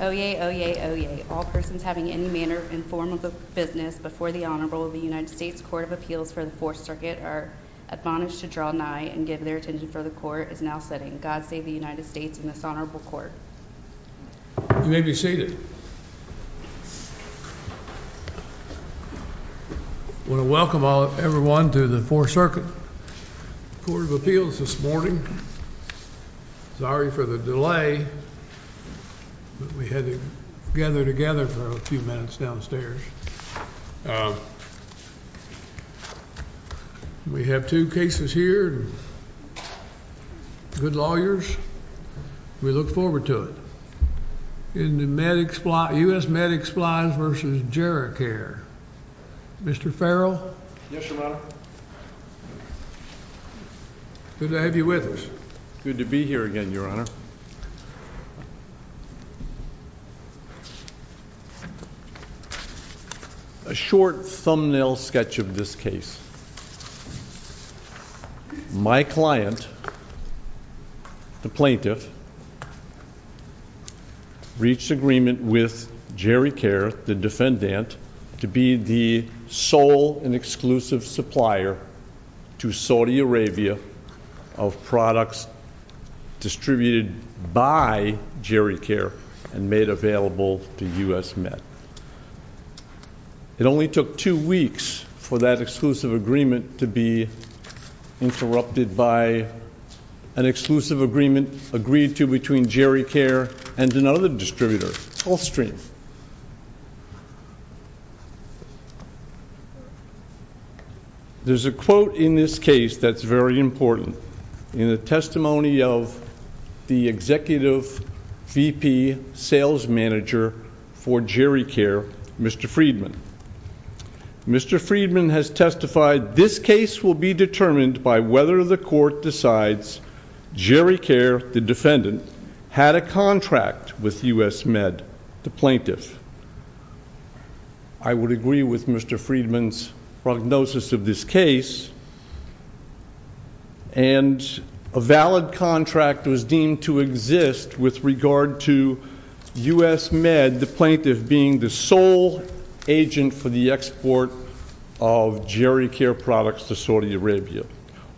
Oyez, oyez, oyez. All persons having any manner or form of business before the Honorable of the United States Court of Appeals for the Fourth Circuit are admonished to draw nigh and give their attention for the Court is now sitting. God save the United States and this Honorable Court. You may be seated. I want to welcome everyone to the Fourth Circuit Court of Appeals this morning. I'm sorry for the delay, but we had to gather together for a few minutes downstairs. We have two cases here, good lawyers. We look forward to it. U.S. Med Supplies v. Geri-Care. Mr. Farrell? Yes, Your Honor. Good to have you with us. Good to be here again, Your Honor. A short thumbnail sketch of this case. My client, the plaintiff, reached agreement with Geri-Care, the defendant, to be the sole and exclusive supplier to Saudi Arabia of products distributed by Geri-Care and made available to U.S. Med. It only took two weeks for that exclusive agreement to be interrupted by an exclusive agreement agreed to between Geri-Care and another distributor, Gulfstream. There's a quote in this case that's very important in the testimony of the Executive VP Sales Manager for Geri-Care, Mr. Friedman. Mr. Friedman has testified, this case will be determined by whether the court decides Geri-Care, the defendant, had a contract with U.S. Med, the plaintiff. I would agree with Mr. Friedman's prognosis of this case, and a valid contract was deemed to exist with regard to U.S. Med, the plaintiff, being the sole agent for the export of Geri-Care products to Saudi Arabia.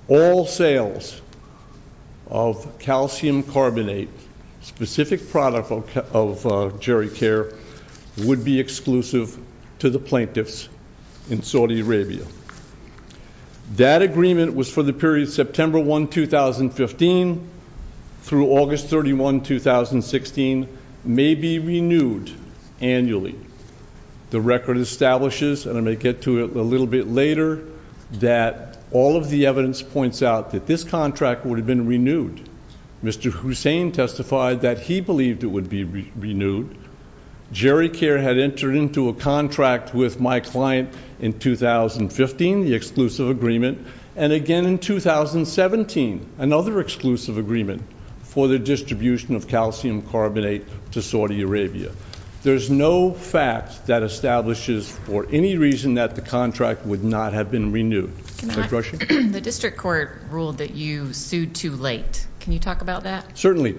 All sales of calcium carbonate, specific product of Geri-Care, would be exclusive to the plaintiffs in Saudi Arabia. That agreement was for the period September 1, 2015 through August 31, 2016, may be renewed annually. The record establishes, and I may get to it a little bit later, that all of the evidence points out that this contract would have been renewed. Mr. Hussain testified that he believed it would be renewed. Geri-Care had entered into a contract with my client in 2015, the exclusive agreement, and again in 2017, another exclusive agreement for the distribution of calcium carbonate to Saudi Arabia. There's no fact that establishes, for any reason, that the contract would not have been renewed. The district court ruled that you sued too late. Can you talk about that? Certainly.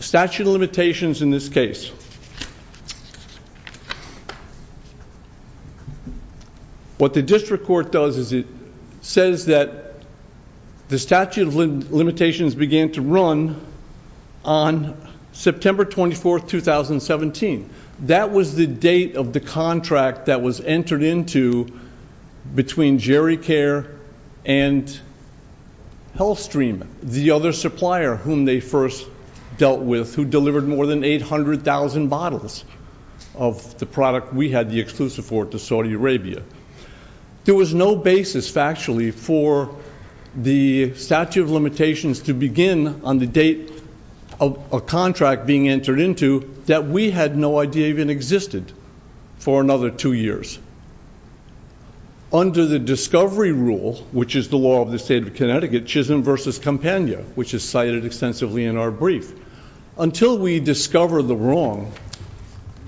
Statute of limitations in this case. What the district court does is it says that the statute of limitations began to run on September 24, 2017. That was the date of the contract that was entered into between Geri-Care and Healthstream, the other supplier whom they first dealt with, who delivered more than 800,000 bottles of the product we had the exclusive for to Saudi Arabia. There was no basis, factually, for the statute of limitations to begin on the date of a contract being entered into that we had no idea even existed for another two years. Under the discovery rule, which is the law of the state of Connecticut, Chisholm versus Campania, which is cited extensively in our brief, until we discover the wrong,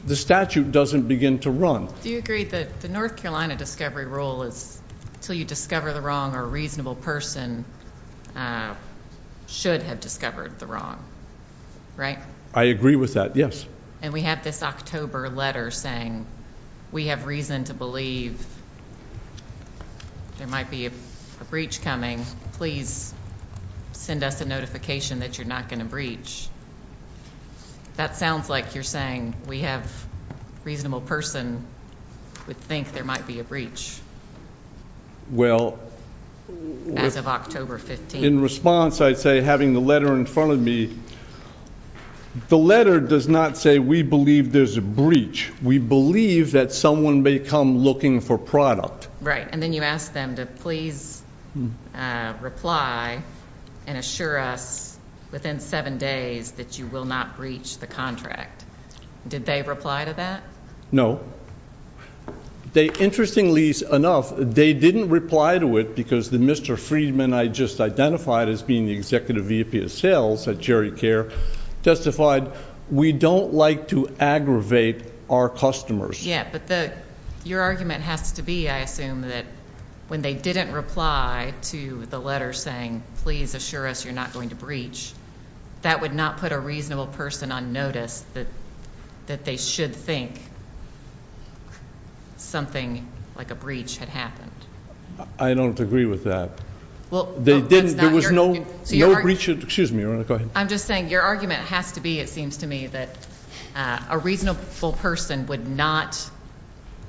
the statute doesn't begin to run. Do you agree that the North Carolina discovery rule is until you discover the wrong, a reasonable person should have discovered the wrong, right? I agree with that, yes. And we have this October letter saying we have reason to believe there might be a breach coming. Please send us a notification that you're not going to breach. That sounds like you're saying we have a reasonable person would think there might be a breach as of October 15th. In response, I'd say having the letter in front of me, the letter does not say we believe there's a breach. We believe that someone may come looking for product. Right, and then you ask them to please reply and assure us within seven days that you will not breach the contract. Did they reply to that? No. Interestingly enough, they didn't reply to it because the Mr. Friedman I just identified as being the executive VP of sales at Jerry Care testified we don't like to aggravate our customers. Yeah, but your argument has to be, I assume, that they didn't reply to the letter saying please assure us you're not going to breach. That would not put a reasonable person on notice that they should think something like a breach had happened. I don't agree with that. There was no breach. Excuse me, go ahead. I'm just saying your argument has to be, it seems to me, that a reasonable person would not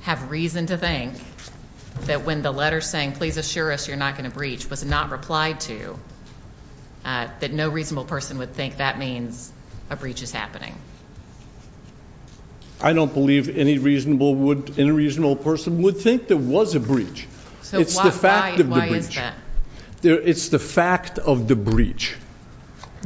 have reason to think that when the letter saying please assure us you're not going to breach was not replied to, that no reasonable person would think that means a breach is happening. I don't believe any reasonable person would think there was a breach. So why is that? It's the fact of the breach.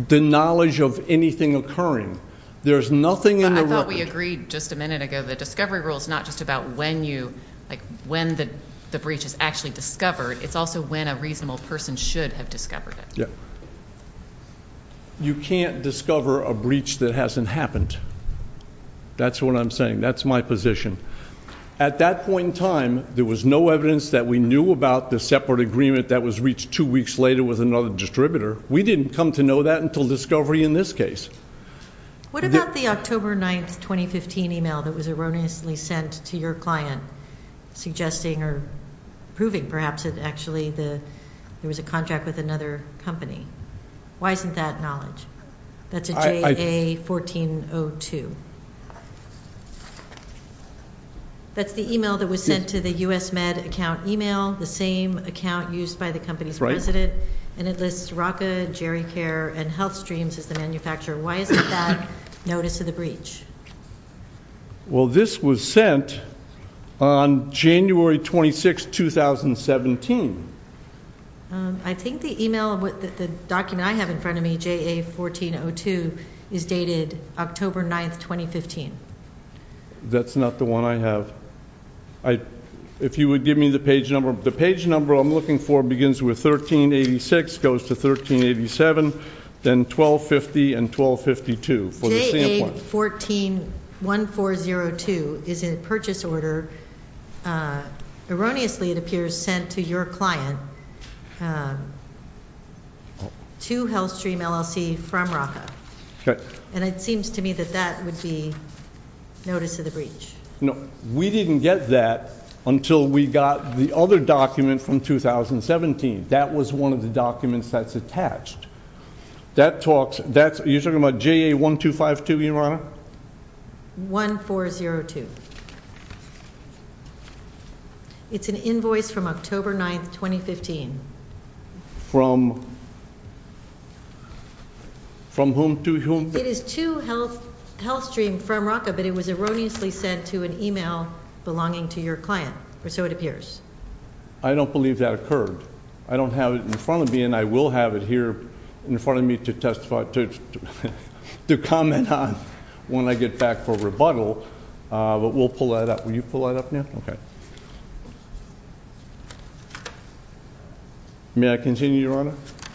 The knowledge of anything occurring. There's nothing. I thought we agreed just a minute ago the discovery rule is not just about when you like when the the breach is actually discovered. It's also when a reasonable person should have discovered it. Yeah. You can't discover a breach that hasn't happened. That's what I'm saying. That's my position. At that point in time there was no evidence that we knew about the separate agreement that was reached two weeks later with another distributor. We didn't come to know that discovery in this case. What about the October 9th 2015 email that was erroneously sent to your client suggesting or proving perhaps it actually the there was a contract with another company? Why isn't that knowledge? That's a JA1402. That's the email that was sent to the U.S. Med account email. The same account used by the HealthStreams as the manufacturer. Why isn't that notice of the breach? Well this was sent on January 26, 2017. I think the email of what the document I have in front of me JA1402 is dated October 9th 2015. That's not the one I have. If you would give me the page number. The page number I'm looking for begins with 1386, goes to 1387, then 1250 and 1252. JA1402 is in purchase order. Erroneously it appears sent to your client to HealthStream LLC from RACA. Okay. And it seems to me that that would be notice of the breach. No, we didn't get that until we got the other document from 2017. That was one of the documents that's attached. That talks, that's, you're talking about JA1252 your honor? 1402. It's an invoice from October 9th 2015. From whom? From whom to whom? It is to HealthStream from RACA, but it was erroneously sent to an email belonging to your client, or so it appears. I don't believe that occurred. I don't have it in front of me and I will have it here in front of me to testify, to comment on when I get back for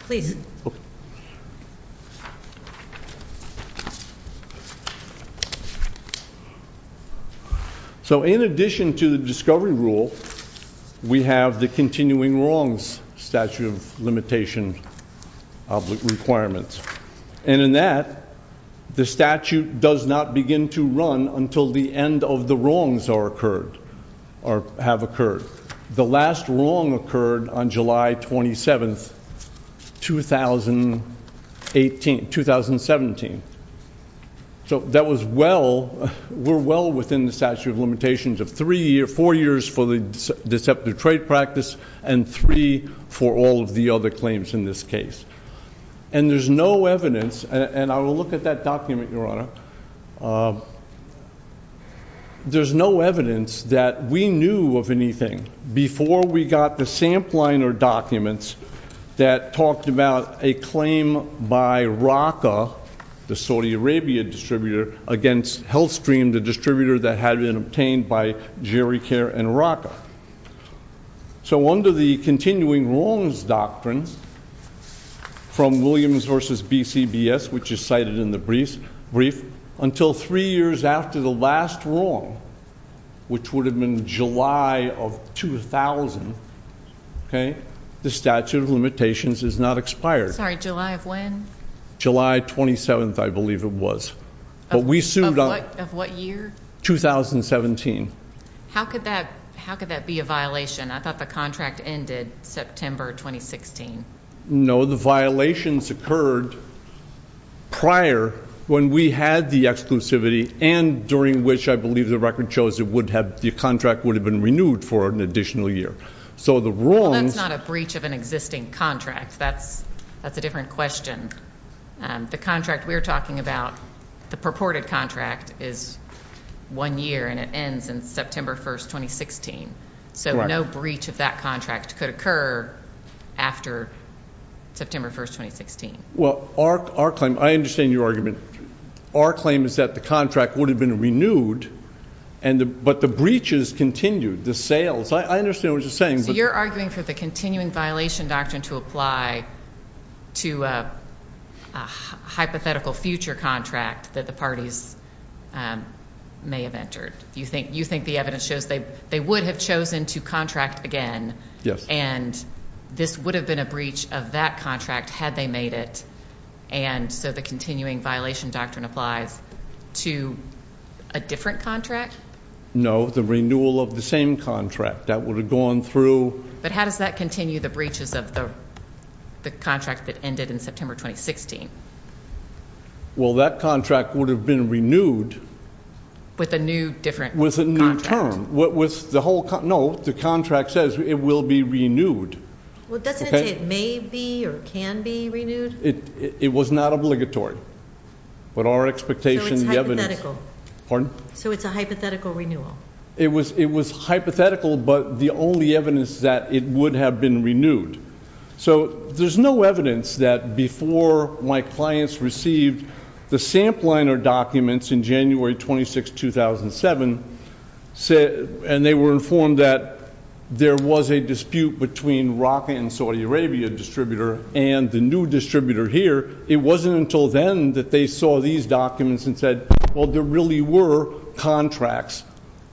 please. So in addition to the discovery rule, we have the continuing wrongs statute of limitation requirements. And in that, the statute does not begin to run until the end of the wrongs are or have occurred. The last wrong occurred on July 27th 2017. So that was well, we're well within the statute of limitations of three years, four years for the deceptive trade practice and three for all of the other claims in this case. And there's no evidence, and I will look at that document your honor, there's no evidence that we knew of anything before we got the sampliner documents that talked about a claim by RACA, the Saudi Arabia distributor, against HealthStream, the distributor that had been obtained by Gericare and RACA. So under the continuing wrongs doctrines from Williams versus BCBS, which is cited in the brief, until three years after the last wrong, which would have been July of 2000, okay, the statute of limitations is not expired. Sorry, July of when? July 27th, I believe it was. Of what year? 2017. How could that be a violation? I thought the contract ended September 2016. No, the violations occurred prior when we had the exclusivity and during which I believe the record shows it would have, the contract would have been renewed for an additional year. So the wrongs. That's not a breach of an existing contract. That's a different question. The contract we're talking about, the purported is one year and it ends in September 1st, 2016. So no breach of that contract could occur after September 1st, 2016. Well, our claim, I understand your argument. Our claim is that the contract would have been renewed, but the breaches continued, the sales. I understand what you're saying. So you're arguing for the continuing violation doctrine to apply to a hypothetical future contract that the parties may have entered. You think the evidence shows they would have chosen to contract again and this would have been a breach of that contract had they made it. And so the continuing violation doctrine applies to a different contract? No, the renewal of the same contract that would have gone through. But how does that continue the breaches of the contract that ended in September, 2016? Well, that contract would have been renewed with a new different, with a new term. What was the whole, no, the contract says it will be renewed. Well, doesn't it say it may be or can be renewed? It was not obligatory, but our expectation, the evidence, so it's a hypothetical renewal. It was, it was hypothetical, but the only evidence that it would have been renewed. So there's no evidence that before my clients received the Sampliner documents in January 26, 2007, and they were informed that there was a dispute between Raka and Saudi Arabia distributor and the new distributor here, it wasn't until then that they saw these documents and said, well, there really were contracts,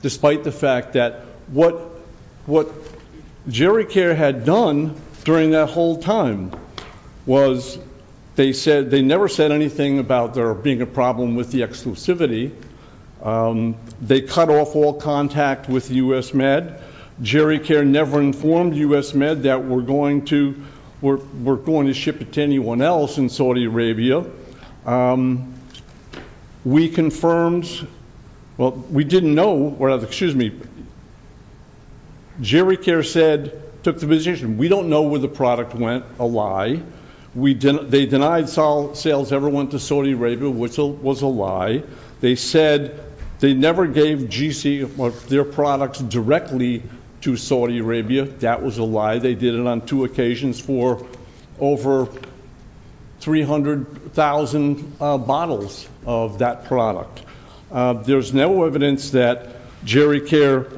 despite the fact that what, what Gericare had done during that whole time was they said, they never said anything about there being a problem with the exclusivity. They cut off all contact with U.S. Med. Gericare never informed U.S. Med that we're going to, we're, we're going to ship it to anyone else in Saudi Arabia. We confirmed, well, we didn't know, excuse me, Gericare said, took the position, we don't know where the product went, a lie. We didn't, they denied sales ever went to Saudi Arabia, which was a lie. They said they never gave GC or their products directly to Saudi Arabia. That was a lie. They did it on two occasions for over 300,000 bottles of that product. There's no evidence that Gericare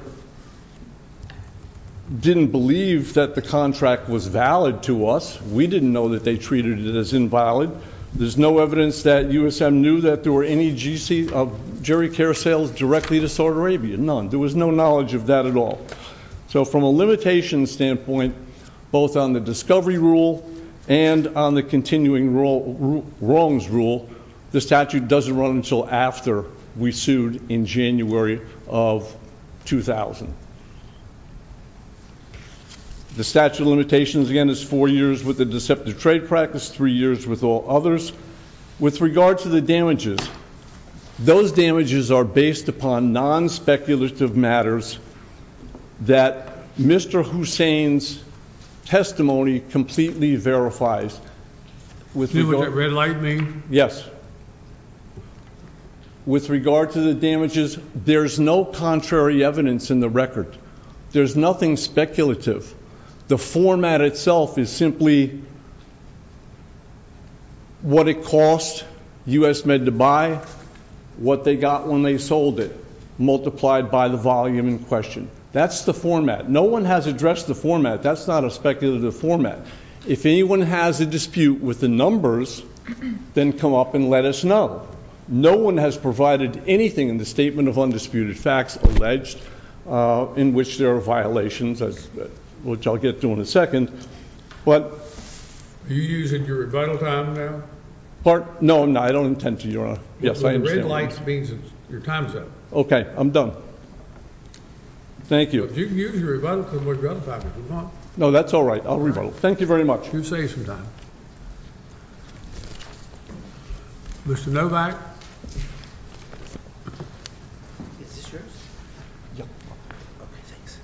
didn't believe that the contract was valid to us. We didn't know that they treated it as invalid. There's no evidence that USM knew that there were any GC of Gericare sales directly to Saudi Arabia, none. There was no knowledge of that at all. So from a limitation standpoint, both on the discovery rule and on the continuing wrongs rule, the statute doesn't run until after we sued in January of 2000. The statute of limitations again is four years with the deceptive trade practice, three years with all others. With regard to the damages, those damages are based upon non-speculative matters that Mr. Hussain's testimony completely verifies. With regard to the damages, there's no contrary evidence in the record. There's nothing speculative. The format itself is simply what it cost USMed to buy, what they got when they sold it, multiplied by the volume in question. That's the format. No one has addressed the format. That's not a speculative format. If anyone has a dispute with the numbers, then come up and let us know. No one has provided anything in the statement of undisputed facts alleged in which there are violations, which I'll get to in a second. Are you using your rebuttal time now? No, I'm not. I don't intend to, Your Honor. Yes, I understand. The red light means it's your time's up. Okay, I'm done. Thank you. You can use your rebuttal time for what you want. No, that's all right. I'll rebuttal. Thank you very much. You've saved some time. Mr. Novak. Is this yours? Yeah. Okay, thanks.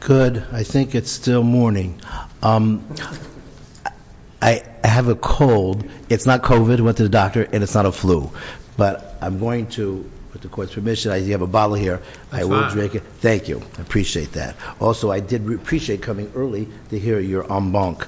Good. I think it's still morning. I have a cold. It's not COVID. I went to the doctor, and it's not a flu. But I'm going to, with the court's permission, I do have a bottle here. I will drink it. Thank you. I appreciate that. Also, I did appreciate coming early to hear your en banc.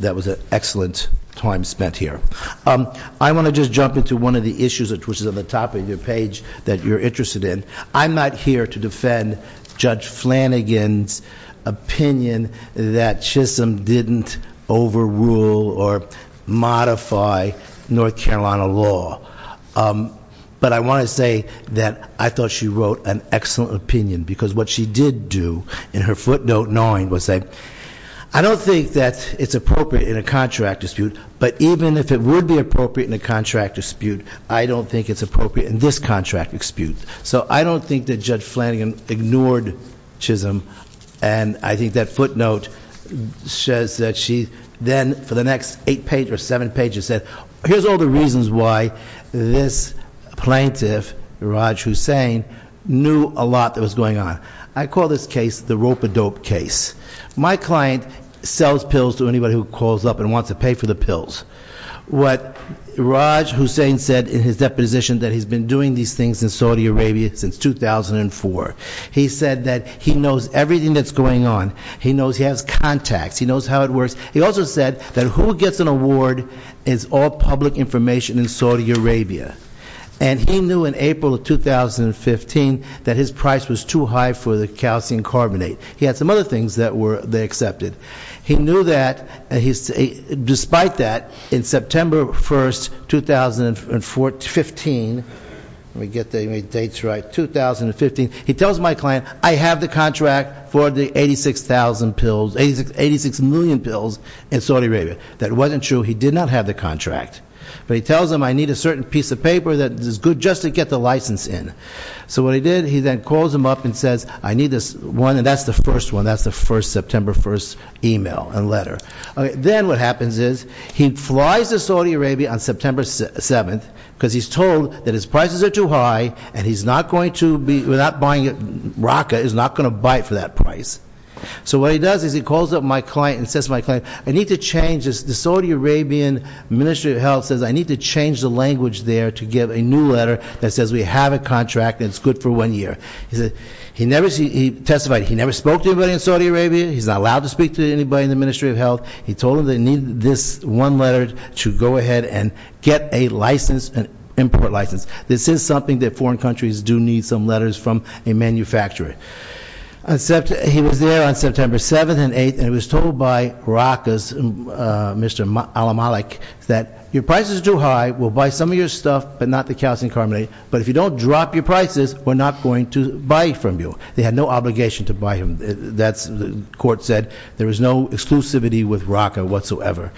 That was an excellent time spent here. I want to just jump into one of the issues, which is on the top of your page, that you're interested in. I'm not here to defend Judge Flanagan's opinion that Chisholm didn't overrule or modify North Carolina law. But I want to say that I thought she wrote an excellent opinion, because what she did do in her footnote 9 was say, I don't think that it's appropriate in a contract dispute. But even if it would be appropriate in a contract dispute, I don't think it's appropriate in this contract dispute. So I don't think that Judge Flanagan ignored Chisholm. And I think that footnote says that she then, for the next eight pages or seven pages, said here's all the reasons why this plaintiff, Raj Hussain, knew a lot that was going on. I call this case the Rope-A-Dope case. My client sells pills to anybody who calls up and wants to pay for the pills. What Raj Hussain said in his deposition that he's been doing these things in Saudi Arabia since 2004. He said that he knows everything that's going on. He knows he has contacts. He knows how it works. He also said that who gets an award is all public information in Saudi Arabia. And he knew in April of 2015 that his price was too high for the calcium carbonate. He had some other things that they accepted. He knew that, despite that, in September 1st, 2015, let me get the dates right, 2015, he tells my client, I have the contract for the 86 million pills in Saudi Arabia. That wasn't true, he did not have the contract. But he tells them I need a certain piece of paper that is good just to get the license in. So what he did, he then calls them up and says, I need this one, and that's the first one. That's the first September 1st email and letter. Then what happens is, he flies to Saudi Arabia on September 7th, because he's told that his prices are too high, and he's not going to be, without buying it, Raqqa is not going to buy it for that price. So what he does is he calls up my client and says to my client, I need to change this. The Saudi Arabian Ministry of Health says I need to change the language there to give a new letter that says we have a contract and it's good for one year. He testified, he never spoke to anybody in Saudi Arabia. He's not allowed to speak to anybody in the Ministry of Health. He told them they need this one letter to go ahead and get a license, an import license. This is something that foreign countries do need some letters from a manufacturer. He was there on September 7th and 8th, and he was told by Raqqa's Mr. Alamalek that your price is too high, we'll buy some of your stuff, but not the calcium carbonate. But if you don't drop your prices, we're not going to buy from you. They had no obligation to buy him. That's, the court said, there was no exclusivity with Raqqa whatsoever.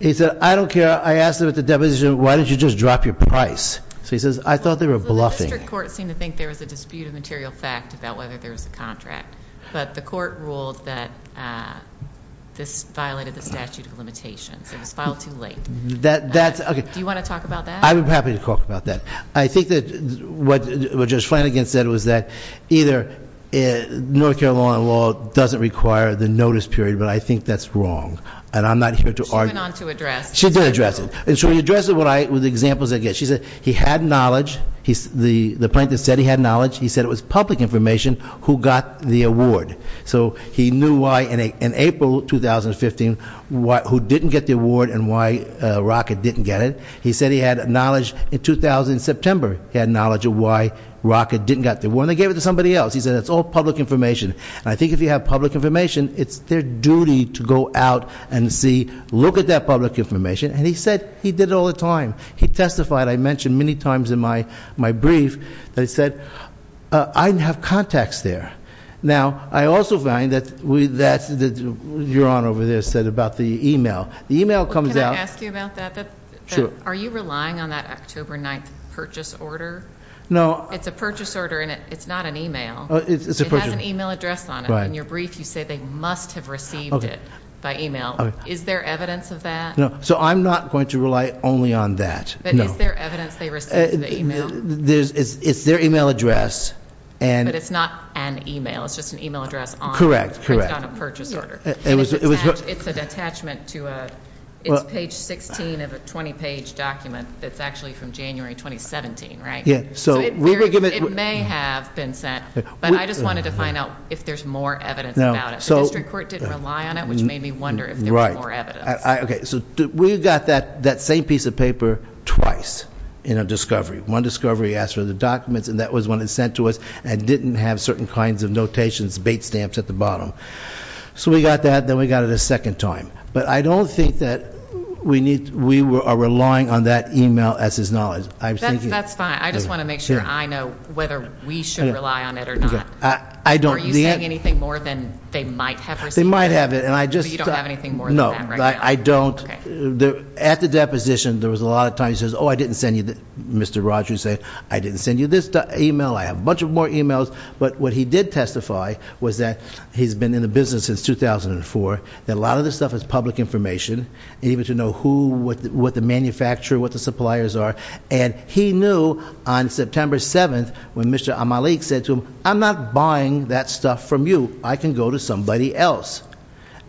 He said, I don't care, I asked him at the deposition, why don't you just drop your price? So he says, I thought they were bluffing. The district court seemed to think there was a dispute of material fact about whether there was a contract. But the court ruled that this violated the statute of limitations. It was filed too late. Do you want to talk about that? I'm happy to talk about that. I think that what Judge Flanagan said was that either North Carolina law doesn't require the notice period, but I think that's wrong. And I'm not here to argue- She went on to address- She did address it. And so she addressed it with examples I get. She said he had knowledge, the plaintiff said he had knowledge. He said it was public information who got the award. So he knew why in April 2015, who didn't get the award and why Raqqa didn't get it. He said he had knowledge in September, he had knowledge of why Raqqa didn't get the award, and they gave it to somebody else. He said it's all public information. I think if you have public information, it's their duty to go out and see, look at that public information. And he said he did it all the time. He testified, I mentioned many times in my brief, that he said, I didn't have contacts there. Now, I also find that your honor over there said about the email. The email comes out- Can I ask you about that? Sure. Are you relying on that October 9th purchase order? No. It's a purchase order and it's not an email. It's a purchase- It has an email address on it. Right. In your brief you say they must have received it by email. Is there evidence of that? No. So I'm not going to rely only on that. No. But is there evidence they received the email? It's their email address and- But it's not an email, it's just an email address on- Correct, correct. It's not a purchase order. It's an attachment to a, it's page 16 of a 20 page document that's actually from January 2017, right? Yeah, so we were given- It may have been sent, but I just wanted to find out if there's more evidence about it. The district court didn't rely on it, which made me wonder if there was more evidence. Okay, so we got that same piece of paper twice in a discovery. One discovery asked for the documents and that was when it was sent to us and didn't have certain kinds of notations, bait stamps at the bottom. So we got that, then we got it a second time. But I don't think that we are relying on that email as his knowledge. I'm thinking- That's fine. I just want to make sure I know whether we should rely on it or not. I don't- Are you saying anything more than they might have received it? They might have it and I just- Do you have anything more than that right now? No, I don't. At the deposition, there was a lot of times he says, I didn't send you, Mr. Rogers said, I didn't send you this email. I have a bunch of more emails. But what he did testify was that he's been in the business since 2004, that a lot of this stuff is public information. Even to know who, what the manufacturer, what the suppliers are. And he knew on September 7th when Mr. Amalik said to him, I'm not buying that stuff from you. I can go to somebody else.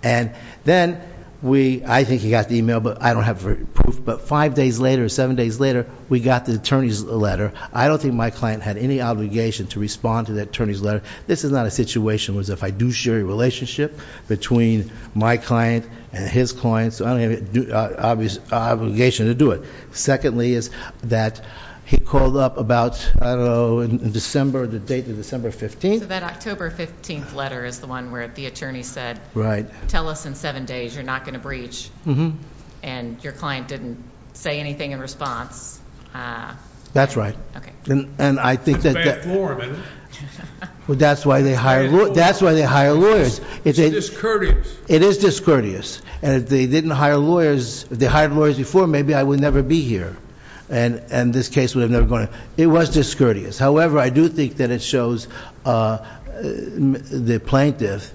And then, I think he got the email, but I don't have proof. But five days later, seven days later, we got the attorney's letter. I don't think my client had any obligation to respond to that attorney's letter. This is not a situation was if I do share a relationship between my client and his client. So I don't have an obligation to do it. Secondly is that he called up about, I don't know, in December, the date of December 15th. So that October 15th letter is the one where the attorney said, tell us in seven days, you're not going to breach. And your client didn't say anything in response. That's right. And I think that- It's bad form. Well, that's why they hire lawyers. It's discourteous. It is discourteous. And if they didn't hire lawyers, if they hired lawyers before, maybe I would never be here. And this case would have never gone. It was discourteous. However, I do think that it shows the plaintiff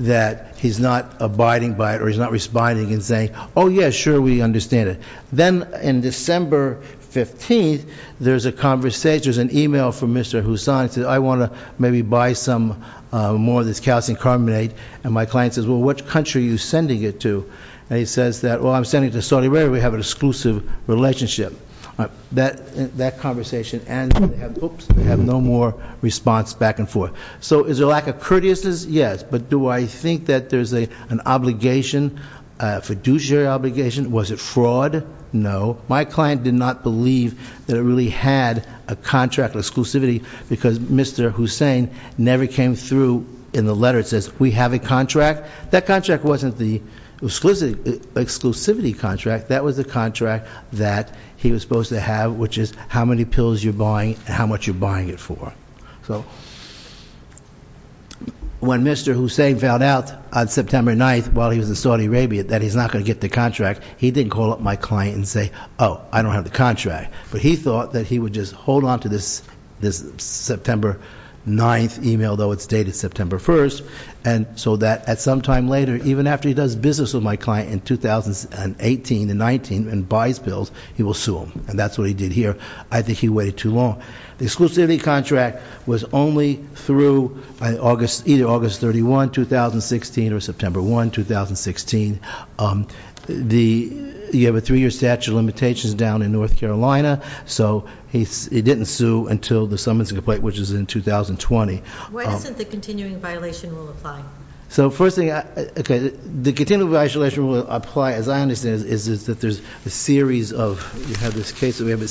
that he's not abiding by it or he's not responding and saying, yeah, sure, we understand it. Then in December 15th, there's a conversation, there's an email from Mr. Hussan that says, I want to maybe buy some more of this calcium carbonate. And my client says, well, which country are you sending it to? And he says that, well, I'm sending it to Saudi Arabia. We have an exclusive relationship. That conversation ends, and they have no more response back and forth. So is there a lack of courteousness? Yes, but do I think that there's an obligation, fiduciary obligation? Was it fraud? No, my client did not believe that it really had a contract exclusivity because Mr. Hussain never came through in the letter. It says, we have a contract. That contract wasn't the exclusivity contract. That was the contract that he was supposed to have, which is how many pills you're buying and how much you're buying it for. So when Mr. Hussain found out on September 9th, while he was in Saudi Arabia, that he's not going to get the contract, he didn't call up my client and say, I don't have the contract. But he thought that he would just hold on to this September 9th email, though it's dated September 1st. And so that at some time later, even after he does business with my client in 2018 and 19 and buys pills, he will sue him. And that's what he did here. I think he waited too long. The exclusivity contract was only through either August 31, 2016, or September 1, 2016. You have a three year statute of limitations down in North Carolina. So he didn't sue until the summons and complaint, which is in 2020. Why isn't the continuing violation rule applied? So first thing, okay, the continuing violation rule will apply, as I understand it, is that there's a series of, you have this case that we have a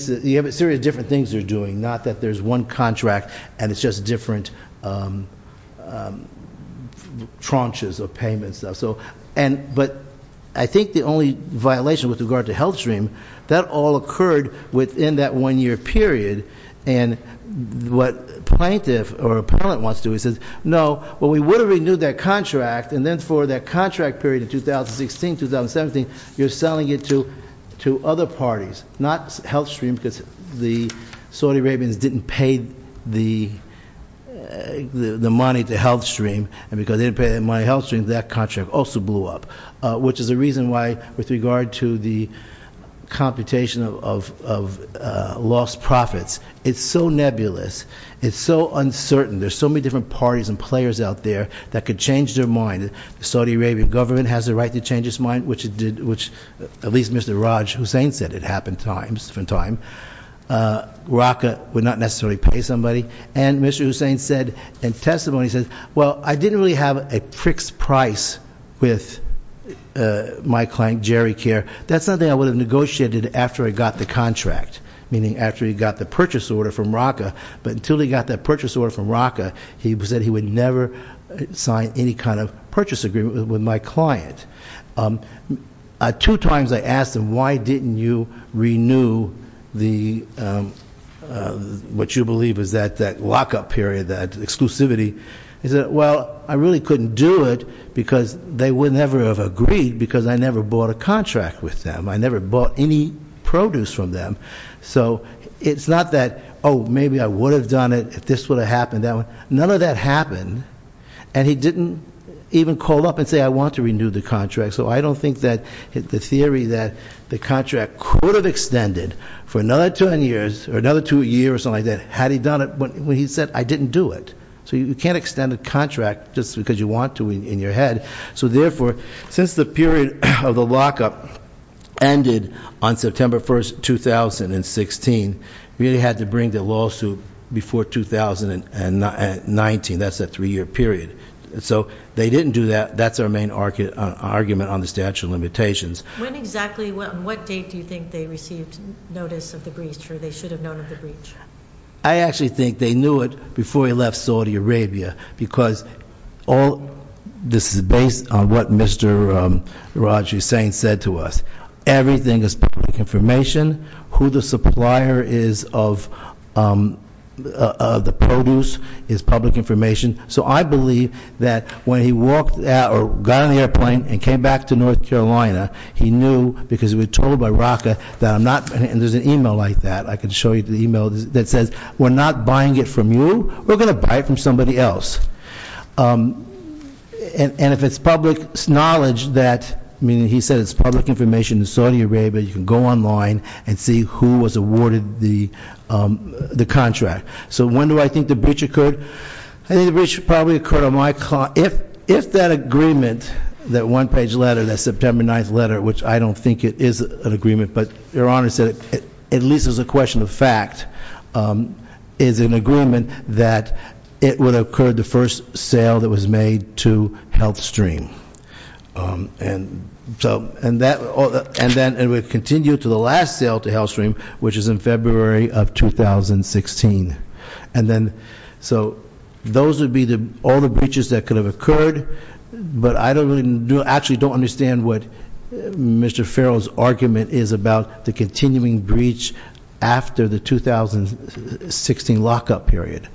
series of different things they're doing. Not that there's one contract and it's just different tranches of payments and stuff. But I think the only violation with regard to Health Stream, that all occurred within that one year period. And what plaintiff or appellant wants to do is says, no, well, we would have renewed that contract. And then for that contract period of 2016, 2017, you're selling it to other parties, not Health Stream because the Saudi Arabians didn't pay the money to Health Stream. And because they didn't pay the money to Health Stream, that contract also blew up. Which is the reason why, with regard to the computation of lost profits, it's so nebulous. It's so uncertain. There's so many different parties and players out there that could change their mind. The Saudi Arabian government has the right to change its mind, which at least Mr. Raj Hussain said it happened from time to time. And Mr. Hussain said in testimony, he said, well, I didn't really have a fixed price with my client, Jerry Care. That's something I would have negotiated after I got the contract, meaning after he got the purchase order from RACA. But until he got that purchase order from RACA, he said he would never sign any kind of purchase agreement with my client. Two times I asked him, why didn't you renew what you believe is that lockup period, that exclusivity? He said, well, I really couldn't do it because they would never have agreed because I never bought a contract with them. I never bought any produce from them. So it's not that, maybe I would have done it if this would have happened, none of that happened. And he didn't even call up and say, I want to renew the contract. So I don't think that the theory that the contract could have extended for another two years or something like that, had he done it when he said, I didn't do it. So you can't extend a contract just because you want to in your head. So therefore, since the period of the lockup ended on September 1st, 2016, we really had to bring the lawsuit before 2019. That's a three year period. So they didn't do that, that's our main argument on the statute of limitations. When exactly, on what date do you think they received notice of the breach, or they should have known of the breach? I actually think they knew it before he left Saudi Arabia, because all, this is based on what Mr. Raj Hussain said to us. Everything is public information. Who the supplier is of the produce is public information. So I believe that when he walked out, or got on the airplane and came back to North Carolina, he knew, because we were told by Raka that I'm not, and there's an email like that. I can show you the email that says, we're not buying it from you, we're going to buy it from somebody else. And if it's public knowledge that, meaning he said it's public information in Saudi Arabia, you can go online and see who was awarded the contract. So when do I think the breach occurred? I think the breach probably occurred on my, if that agreement, that one page letter, that September 9th letter, which I don't think it is an agreement, but your honor said it, at least as a question of fact, is an agreement that it would have occurred the first sale that was made to Health Stream. And so, and that, and then it would continue to the last sale to Health Stream, which is in February of 2016. And then, so those would be all the breaches that could have occurred, but I don't really, actually don't understand what Mr. Farrell's argument is about the continuing breach after the 2016 lock-up period.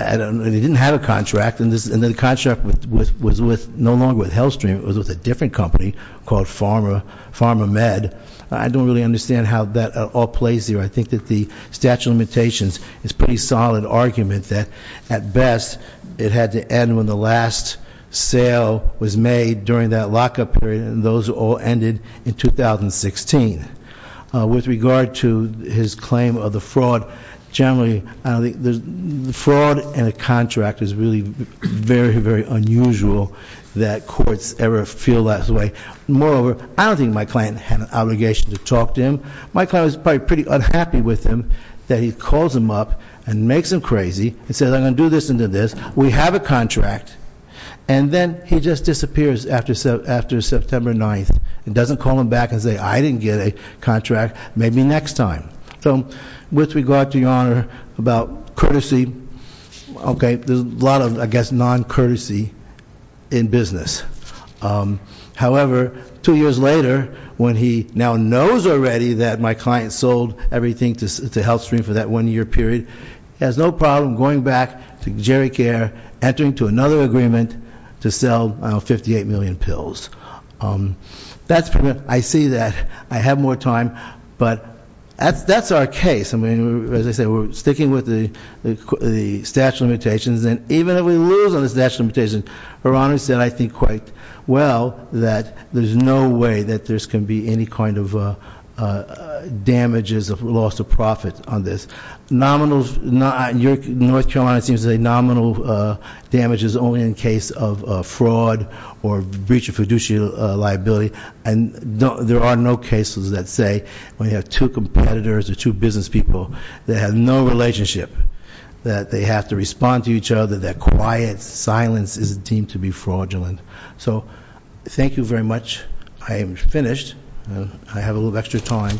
I don't know, they didn't have a contract, and the contract was with, no longer with Health Stream, it was with a different company called Pharma Med. I don't really understand how that all plays here. I think that the statute of limitations is pretty solid argument that, at best, it had to end when the last sale was made during that lock-up period, and those all ended in 2016. With regard to his claim of the fraud, generally, I don't think, the fraud in a contract is really very, very unusual that courts ever feel that way. Moreover, I don't think my client had an obligation to talk to him. My client was probably pretty unhappy with him, that he calls him up and makes him crazy, and says, I'm going to do this and do this. We have a contract, and then he just disappears after September 9th, and doesn't call him back and say, I didn't get a contract, maybe next time. So, with regard to your honor, about courtesy, okay, there's a lot of, I guess, non-courtesy in business. However, two years later, when he now knows already that my client sold everything to Health Stream for that one year period, has no problem going back to Jerry Care, entering to another agreement to sell 58 million pills. I see that, I have more time, but that's our case. I mean, as I said, we're sticking with the statute of limitations, and even if we lose on the statute of limitations, your honor said, I think, quite well, that there's no way that there's going to be any kind of damages of loss of profit on this. North Carolina seems to say nominal damage is only in case of fraud or breach of fiduciary liability. And there are no cases that say, when you have two competitors or two business people that have no relationship, that they have to respond to each other, that quiet silence is deemed to be fraudulent. So, thank you very much. I am finished. I have a little extra time.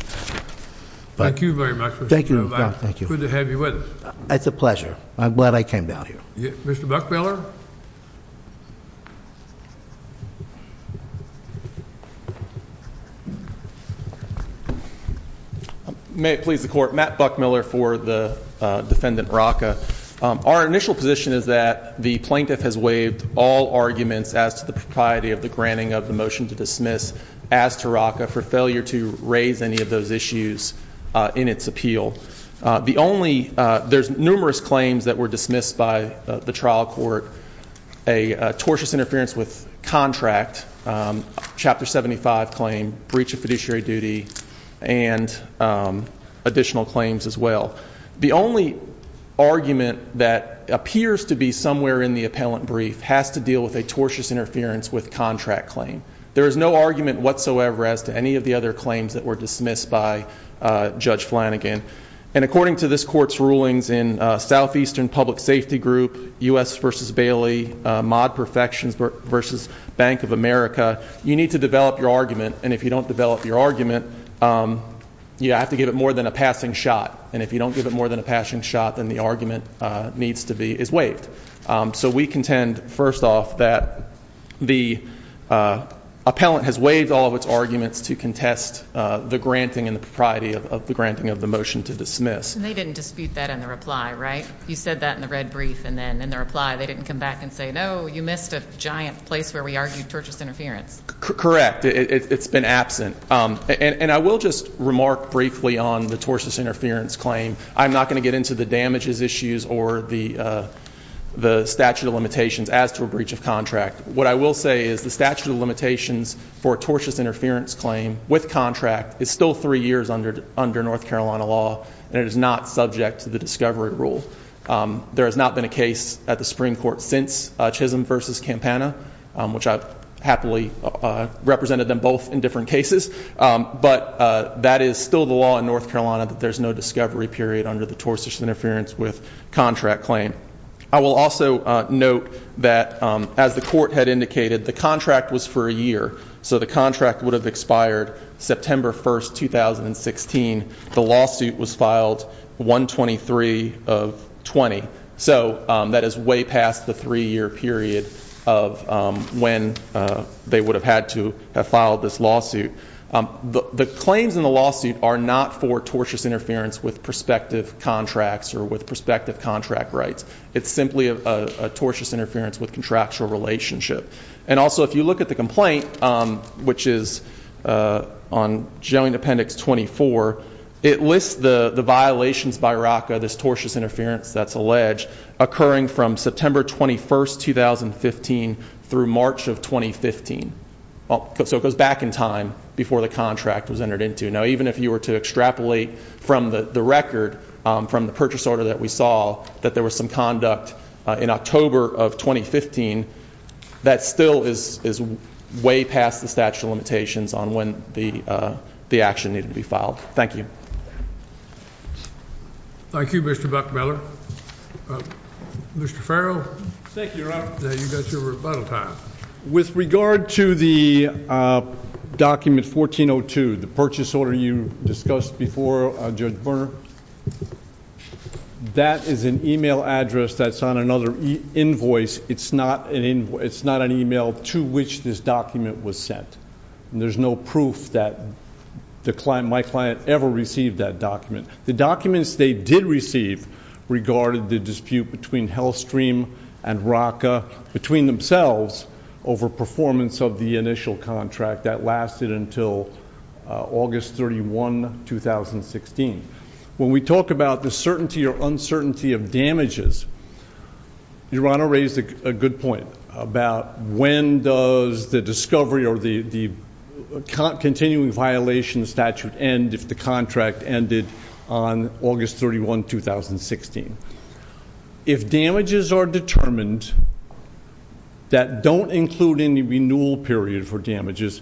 Thank you very much. Thank you. Good to have you with us. It's a pleasure. I'm glad I came down here. Mr. Buckmiller? May it please the court, Matt Buckmiller for the defendant Rocca. Our initial position is that the plaintiff has waived all arguments as to the propriety of the granting of the motion to dismiss as to Rocca for failure to raise any of those issues in its appeal. The only, there's numerous claims that were dismissed by the trial court. A tortious interference with contract, Chapter 75 claim, breach of fiduciary duty, and additional claims as well. The only argument that appears to be somewhere in the appellant brief has to deal with a tortious interference with contract claim. There is no argument whatsoever as to any of the other claims that were dismissed by Judge Flanagan. And according to this court's rulings in Southeastern Public Safety Group, US versus Bailey, Mod Perfections versus Bank of America, you need to develop your argument. And if you don't develop your argument, you have to give it more than a passing shot. And if you don't give it more than a passing shot, then the argument needs to be, is waived. So we contend, first off, that the appellant has waived all of its arguments to contest the granting and the propriety of the granting of the motion to dismiss. And they didn't dispute that in the reply, right? You said that in the red brief, and then in the reply, they didn't come back and say, no, you missed a giant place where we argued tortious interference. Correct, it's been absent. And I will just remark briefly on the tortious interference claim. I'm not going to get into the damages issues or the statute of limitations as to a breach of contract. What I will say is the statute of limitations for a tortious interference claim with contract is still three years under North Carolina law. And it is not subject to the discovery rule. There has not been a case at the Supreme Court since Chisholm versus Campana, which I happily represented them both in different cases. But that is still the law in North Carolina, that there's no discovery period under the tortious interference with contract claim. I will also note that, as the court had indicated, the contract was for a year. So the contract would have expired September 1st, 2016. The lawsuit was filed 123 of 20. So that is way past the three year period of when they would have had to have filed this lawsuit. The claims in the lawsuit are not for tortious interference with prospective contracts or with prospective contract rights. It's simply a tortious interference with contractual relationship. And also, if you look at the complaint, which is on joint appendix 24, it lists the violations by RACA, this tortious interference that's alleged, occurring from September 21st, 2015 through March of 2015. So it goes back in time before the contract was entered into. Now, even if you were to extrapolate from the record, from the purchase order that we saw, that there was some conduct in October of 2015, that still is way past the statute of limitations on when the action needed to be filed. Thank you. Thank you, Mr. Buckmiller. Mr. Farrell? Thank you, Robert. You got your rebuttal time. With regard to the document 1402, the purchase order you discussed before, Judge Burner, that is an email address that's on another invoice. It's not an email to which this document was sent. And there's no proof that my client ever received that document. The documents they did receive regarded the dispute between Hellstream and RACA between themselves over performance of the initial contract. That lasted until August 31, 2016. When we talk about the certainty or uncertainty of damages, Your Honor raised a good point about when does the discovery or the continuing violation statute end if the contract ended on August 31, 2016. If damages are determined that don't include any renewal period for damages,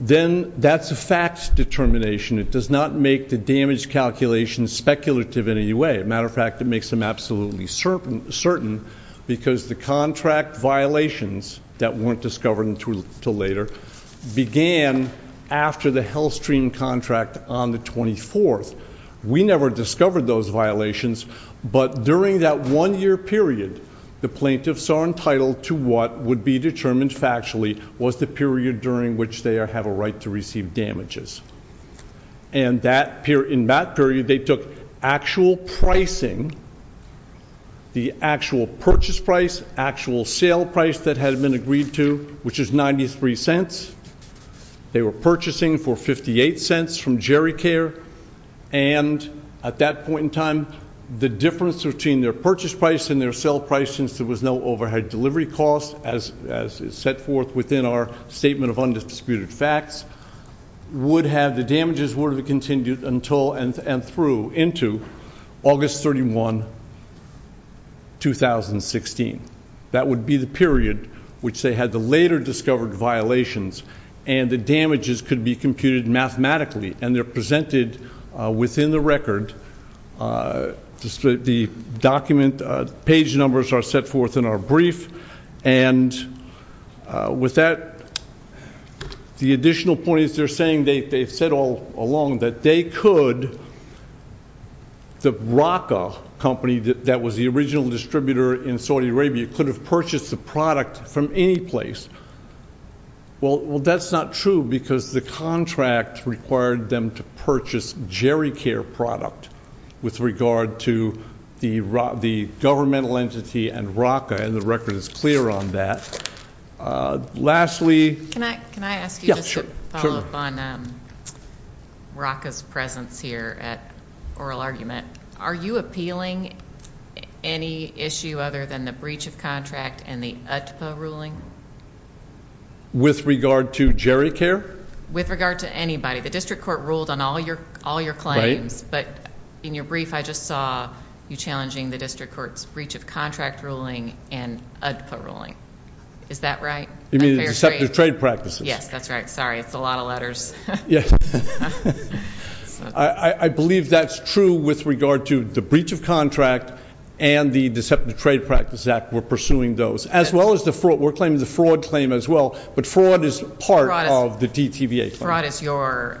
then that's a fact determination. It does not make the damage calculation speculative in any way. Matter of fact, it makes them absolutely certain because the contract violations that weren't discovered until later began after the Hellstream contract on the 24th. We never discovered those violations, but during that one year period, the plaintiffs are entitled to what would be determined factually was the period during which they have a right to receive damages. And in that period, they took actual pricing, the actual purchase price, actual sale price that had been agreed to, which is $0.93. They were purchasing for $0.58 from Jerry Care. And at that point in time, the difference between their purchase price and their sale price, since there was no overhead delivery cost as set forth within our statement of undisputed facts, would have the damages were to be continued until and through into August 31, 2016. That would be the period which they had the later discovered violations, and the damages could be computed mathematically, and they're presented within the record. The document page numbers are set forth in our brief. And with that, the additional points they're saying, they've said all along that they could, the Raqqa company that was the original distributor in Saudi Arabia could have purchased the product from any place, well, that's not true because the contract required them to purchase Jerry Care product with regard to the governmental entity and Raqqa, and the record is clear on that. Lastly- Can I ask you just to follow up on Raqqa's presence here at Oral Argument? Are you appealing any issue other than the breach of contract and the UTPA ruling? With regard to Jerry Care? With regard to anybody. The district court ruled on all your claims, but in your brief I just saw you challenging the district court's breach of contract ruling and UDPA ruling. Is that right? You mean the Deceptive Trade Practices? Yes, that's right. Sorry, it's a lot of letters. Yeah. I believe that's true with regard to the breach of contract and the Deceptive Trade Practice Act, we're pursuing those, as well as the fraud. We're claiming the fraud claim as well, but fraud is part of the DTVA claim. Fraud is your,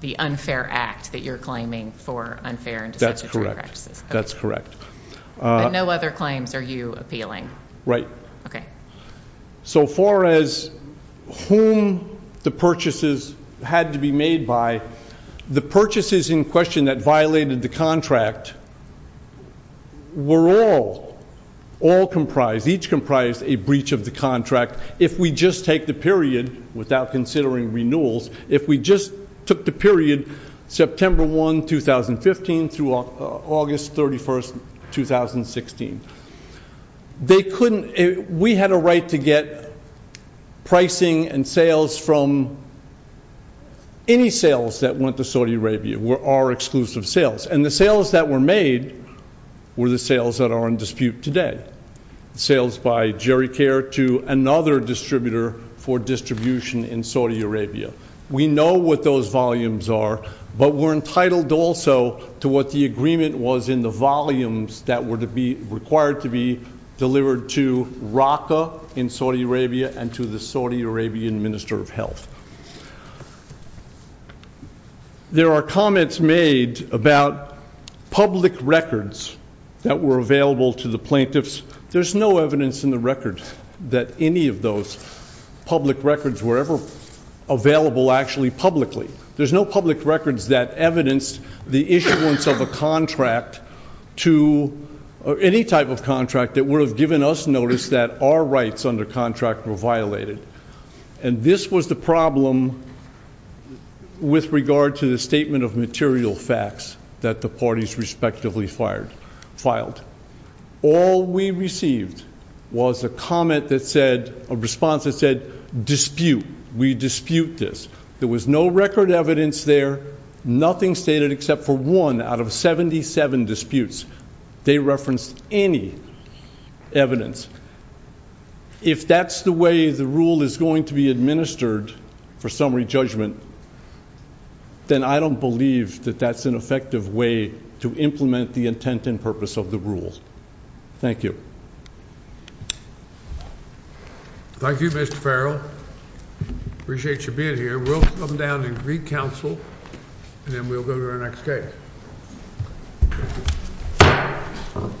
the unfair act that you're claiming for unfair and deceptive trade. That's correct. But no other claims are you appealing? Right. Okay. So far as whom the purchases had to be made by, the purchases in question that violated the contract were all, all comprised, each comprised a breach of the contract. If we just take the period, without considering renewals, if we just took the period September 1, 2015 through August 31st, 2016. They couldn't, we had a right to get pricing and sales from any sales that went to Saudi Arabia, our exclusive sales. And the sales that were made were the sales that are in dispute today. Sales by Jerry Care to another distributor for distribution in Saudi Arabia. We know what those volumes are, but we're entitled also to what the agreement was in the volumes that were to be required to be delivered to Raqqa in Saudi Arabia and to the Saudi Arabian Minister of Health. There are comments made about public records that were available to the plaintiffs. There's no evidence in the record that any of those public records were ever available actually publicly. There's no public records that evidenced the issuance of a contract to, or any type of contract that would have given us notice that our rights under contract were violated. And this was the problem with regard to the statement of material facts that the parties respectively filed. All we received was a comment that said, a response that said, dispute, we dispute this. There was no record evidence there, nothing stated except for one out of 77 disputes. They referenced any evidence. If that's the way the rule is going to be administered for summary judgment, then I don't believe that that's an effective way to implement the intent and purpose of the rules. Thank you. Thank you, Mr. Farrell. I appreciate you being here. We'll come down and re-counsel, and then we'll go to our next case. Okay. Mr.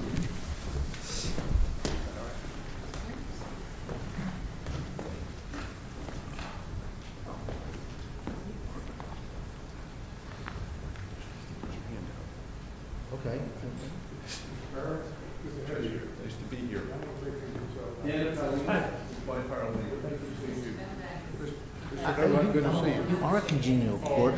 Farrell, it's a pleasure to be here. I don't know if we're going to do this all the time, but thank you for seeing me. Mr. Farrell, it's good to see you. You are a congenial court.